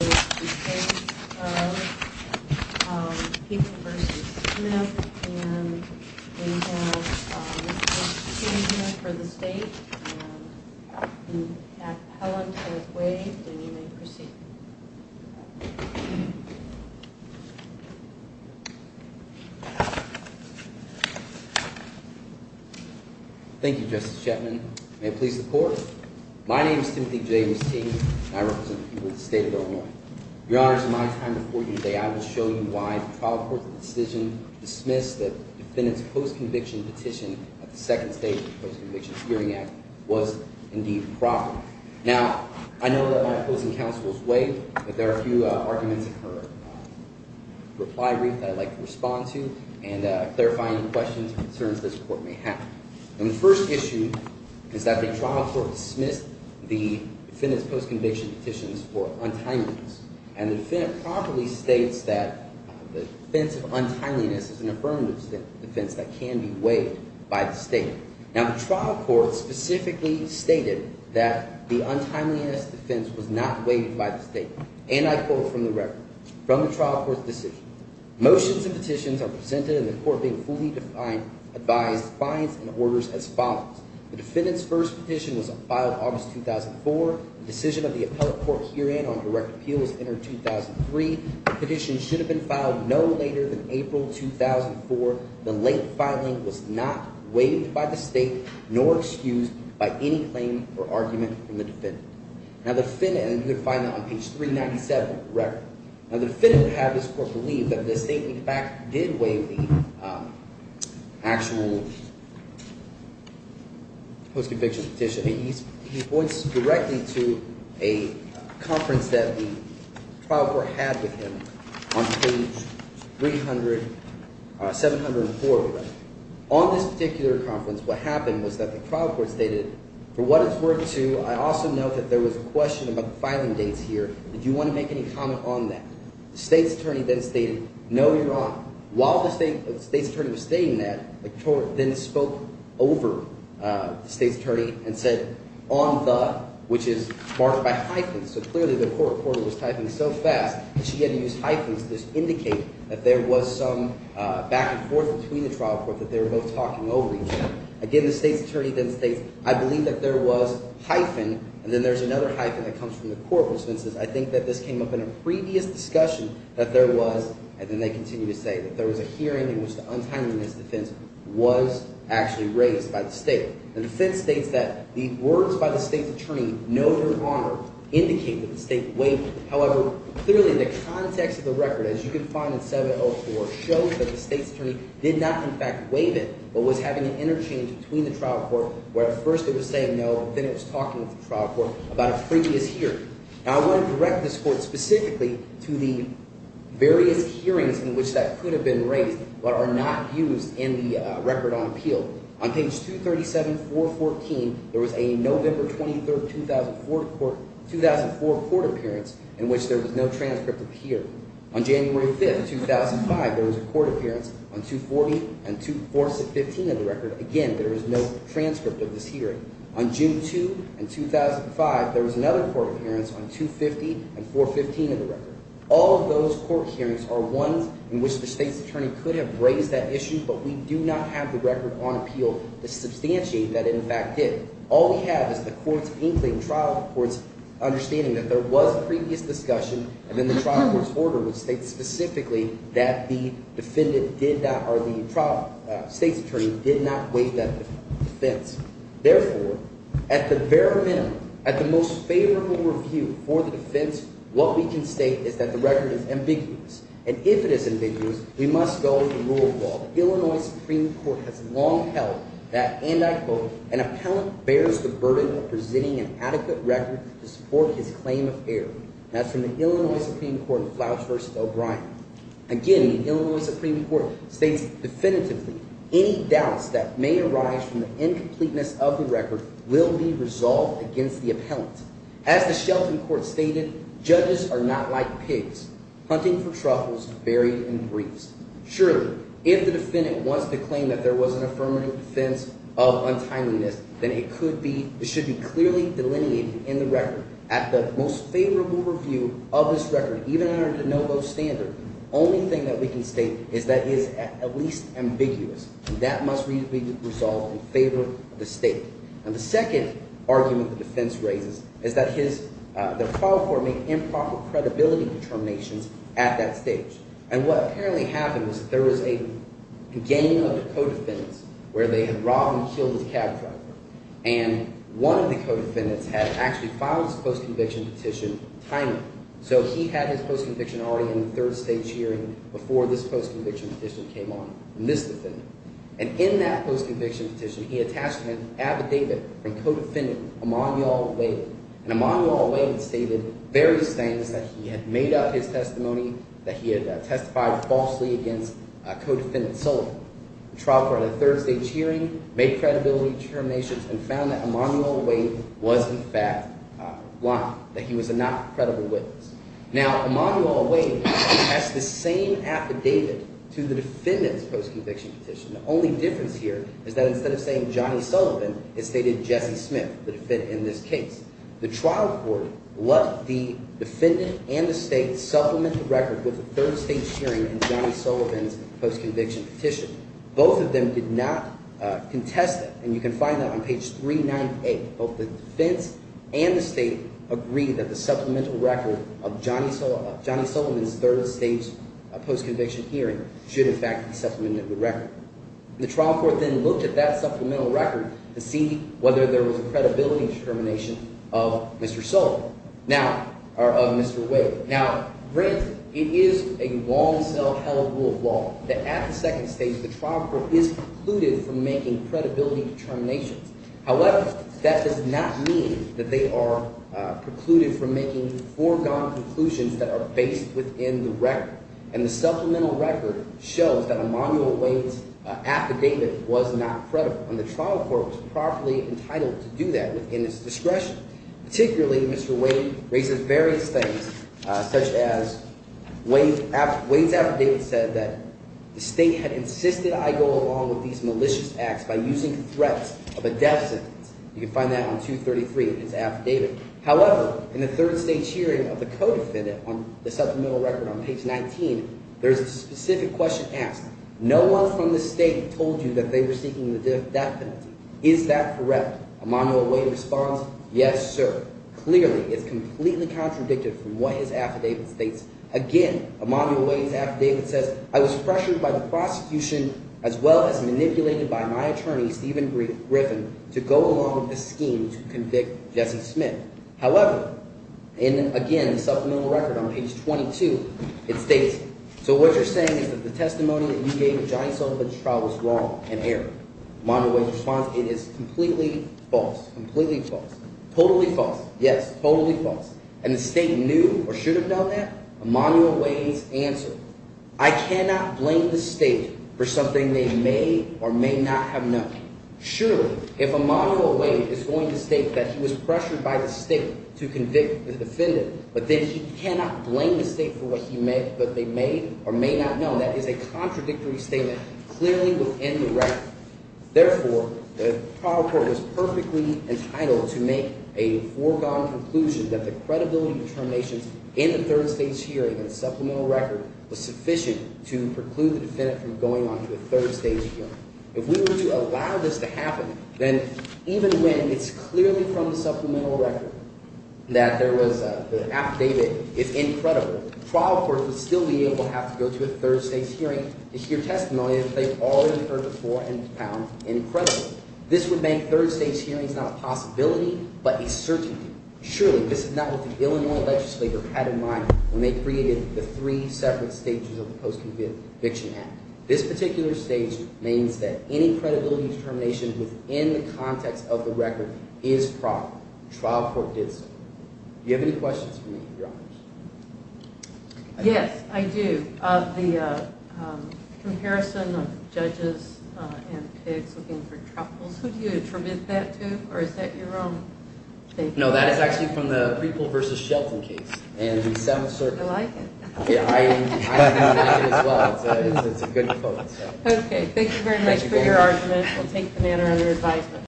and we have Mr. Smith for the state and we have Helen to waive and you may proceed. Thank you Justice Shetland. May it please the court. My name is Timothy James T. and I represent the people of the state of Illinois. Your Honor, in my time before you today, I will show you why the trial court's decision to dismiss the defendant's post-conviction petition at the second stage of the Post-Conviction Hearing Act was indeed proper. Now, I know that my opposing counsel is waiving, but there are a few arguments in her reply brief that I'd like to respond to and clarify any questions or concerns this court may have. And the first issue is that the trial court dismissed the defendant's post-conviction petitions for untimeliness. And the defendant properly states that the defense of untimeliness is an affirmative defense that can be waived by the state. Now, the trial court specifically stated that the untimeliness defense was not waived by the state. And I quote from the record, from the trial court's decision, motions and petitions are presented in the court being fully advised, defiance, and orders as follows. The defendant's first petition was filed August 2004. The decision of the appellate court herein on direct appeal was entered 2003. The petition should have been filed no later than April 2004. The late filing was not waived by the state nor excused by any claim or argument from the defendant. Now, the defendant – and you can find that on page 397 of the record. Now, the defendant had this court believe that the state, in fact, did waive the actual post-conviction petition. He points directly to a conference that the trial court had with him on page 300, 704 of the record. On this particular conference, what happened was that the trial court stated, for what it's worth to – I also note that there was a question about the filing dates here. Did you want to make any comment on that? The state's attorney then stated, no, Your Honor. While the state's attorney was stating that, the court then spoke over the state's attorney and said, on the – which is marked by hyphens. So clearly the court was typing so fast that she had to use hyphens to indicate that there was some back and forth between the trial court that they were both talking over each other. Again, the state's attorney then states, I believe that there was hyphen, and then there's another hyphen that comes from the court, which then says, I think that this came up in a previous discussion that there was – and then they continue to say that there was a hearing in which the untimeliness defense was actually raised by the state. The defense states that the words by the state's attorney, no, Your Honor, indicate that the state waived it. However, clearly the context of the record, as you can find in 704, shows that the state's attorney did not, in fact, waive it, but was having an interchange between the trial court where at first it was saying no, but then it was talking with the trial court about a previous hearing. Now, I want to direct this court specifically to the various hearings in which that could have been raised but are not used in the record on appeal. On page 237, 414, there was a November 23, 2004 court appearance in which there was no transcript of the hearing. On January 5, 2005, there was a court appearance on 240 and – 415 of the record. Again, there is no transcript of this hearing. On June 2, 2005, there was another court appearance on 250 and 415 of the record. All of those court hearings are ones in which the state's attorney could have raised that issue, but we do not have the record on appeal to substantiate that it, in fact, did. All we have is the court's inkling, trial court's understanding that there was a previous discussion, and then the trial court's order which states specifically that the defendant did not – or the trial – state's attorney did not weigh that defense. Therefore, at the very minimum, at the most favorable review for the defense, what we can state is that the record is ambiguous, and if it is ambiguous, we must go with the rule of law. The Illinois Supreme Court has long held that, and I quote, an appellant bears the burden of presenting an adequate record to support his claim of error. Again, the Illinois Supreme Court states definitively, any doubts that may arise from the incompleteness of the record will be resolved against the appellant. As the Shelton Court stated, judges are not like pigs, hunting for truffles buried in briefs. Surely, if the defendant wants to claim that there was an affirmative defense of untimeliness, then it could be – it should be clearly delineated in the record. At the most favorable review of this record, even under de novo standard, the only thing that we can state is that it is at least ambiguous, and that must be resolved in favor of the state. And the second argument the defense raises is that his – the trial court made improper credibility determinations at that stage. And what apparently happened was that there was a gang of co-defendants where they had filed this post-conviction petition timely. So he had his post-conviction already in the third-stage hearing before this post-conviction petition came on from this defendant. And in that post-conviction petition, he attached an affidavit from co-defendant Emanuel Wade. And Emanuel Wade stated various things that he had made up his testimony, that he had testified falsely against co-defendant Sullivan. The trial court had a third-stage hearing, made credibility determinations, and found that Emanuel Wade was, in fact, lying, that he was a not credible witness. Now, Emanuel Wade has the same affidavit to the defendant's post-conviction petition. The only difference here is that instead of saying Johnny Sullivan, it stated Jesse Smith, the defendant in this case. The trial court let the defendant and the state supplement the record with a third-stage hearing in Johnny Sullivan's post-conviction petition. Both of them did not contest it. And you can find that on page 398. Both the defense and the state agreed that the supplemental record of Johnny Sullivan's third-stage post-conviction hearing should, in fact, supplement the record. The trial court then looked at that supplemental record to see whether there was a credibility determination of Mr. Sullivan or of Mr. Wade. Now, granted, it is a long-self-held rule of law that at the second stage, the trial court is precluded from making credibility determinations. However, that does not mean that they are precluded from making foregone conclusions that are based within the record. And the supplemental record shows that Emanuel Wade's affidavit was not credible, and the trial court was properly entitled to do that within its discretion. Particularly, Mr. Wade raises various things, such as Wade's affidavit said that the state had insisted I go along with these malicious acts by using threats of a death sentence. You can find that on 233 in his affidavit. However, in the third-stage hearing of the co-defendant on the supplemental record on page 19, there's a specific question asked. No one from the state told you that they were seeking the death penalty. Is that correct? Emanuel Wade responds, yes, sir. Clearly, it's completely contradicted from what his affidavit states. Again, Emanuel Wade's affidavit says, I was pressured by the prosecution as well as manipulated by my attorney, Stephen Griffin, to go along with a scheme to convict Jesse Smith. However, in, again, the supplemental record on page 22, it states, so what you're saying is that the testimony that you gave to Johnny Sullivan's trial was wrong and error. Emanuel Wade's response, it is completely false. Completely false. Totally false. Yes, totally false. And the state knew or should have known that? Emanuel Wade's answer, I cannot blame the state for something they may or may not have known. Surely, if Emanuel Wade is going to state that he was pressured by the state to convict the defendant, but then he cannot blame the state for what they may or may not know, that is a contradictory statement. Clearly within the record. Therefore, the trial court was perfectly entitled to make a foregone conclusion that the credibility determinations in the third stage hearing and supplemental record was sufficient to preclude the defendant from going on to a third stage hearing. If we were to allow this to happen, then even when it's clearly from the supplemental record that there was – the affidavit is incredible, the trial court would still be able to have to go to a third stage hearing to hear testimony that they already heard before and found incredible. This would make third stage hearings not a possibility but a certainty. Surely, this is not what the Illinois legislature had in mind when they created the three separate stages of the Post-Conviction Act. This particular stage means that any credibility determination within the context of the record is proper. The trial court did so. Do you have any questions for me, Your Honors? Yes, I do. The comparison of judges and pigs looking for troubles, who do you attribute that to? Or is that your own statement? No, that is actually from the Preeple v. Shelton case. I like it. I like it as well. It's a good quote. Okay, thank you very much for your argument. We'll take the matter under advisement.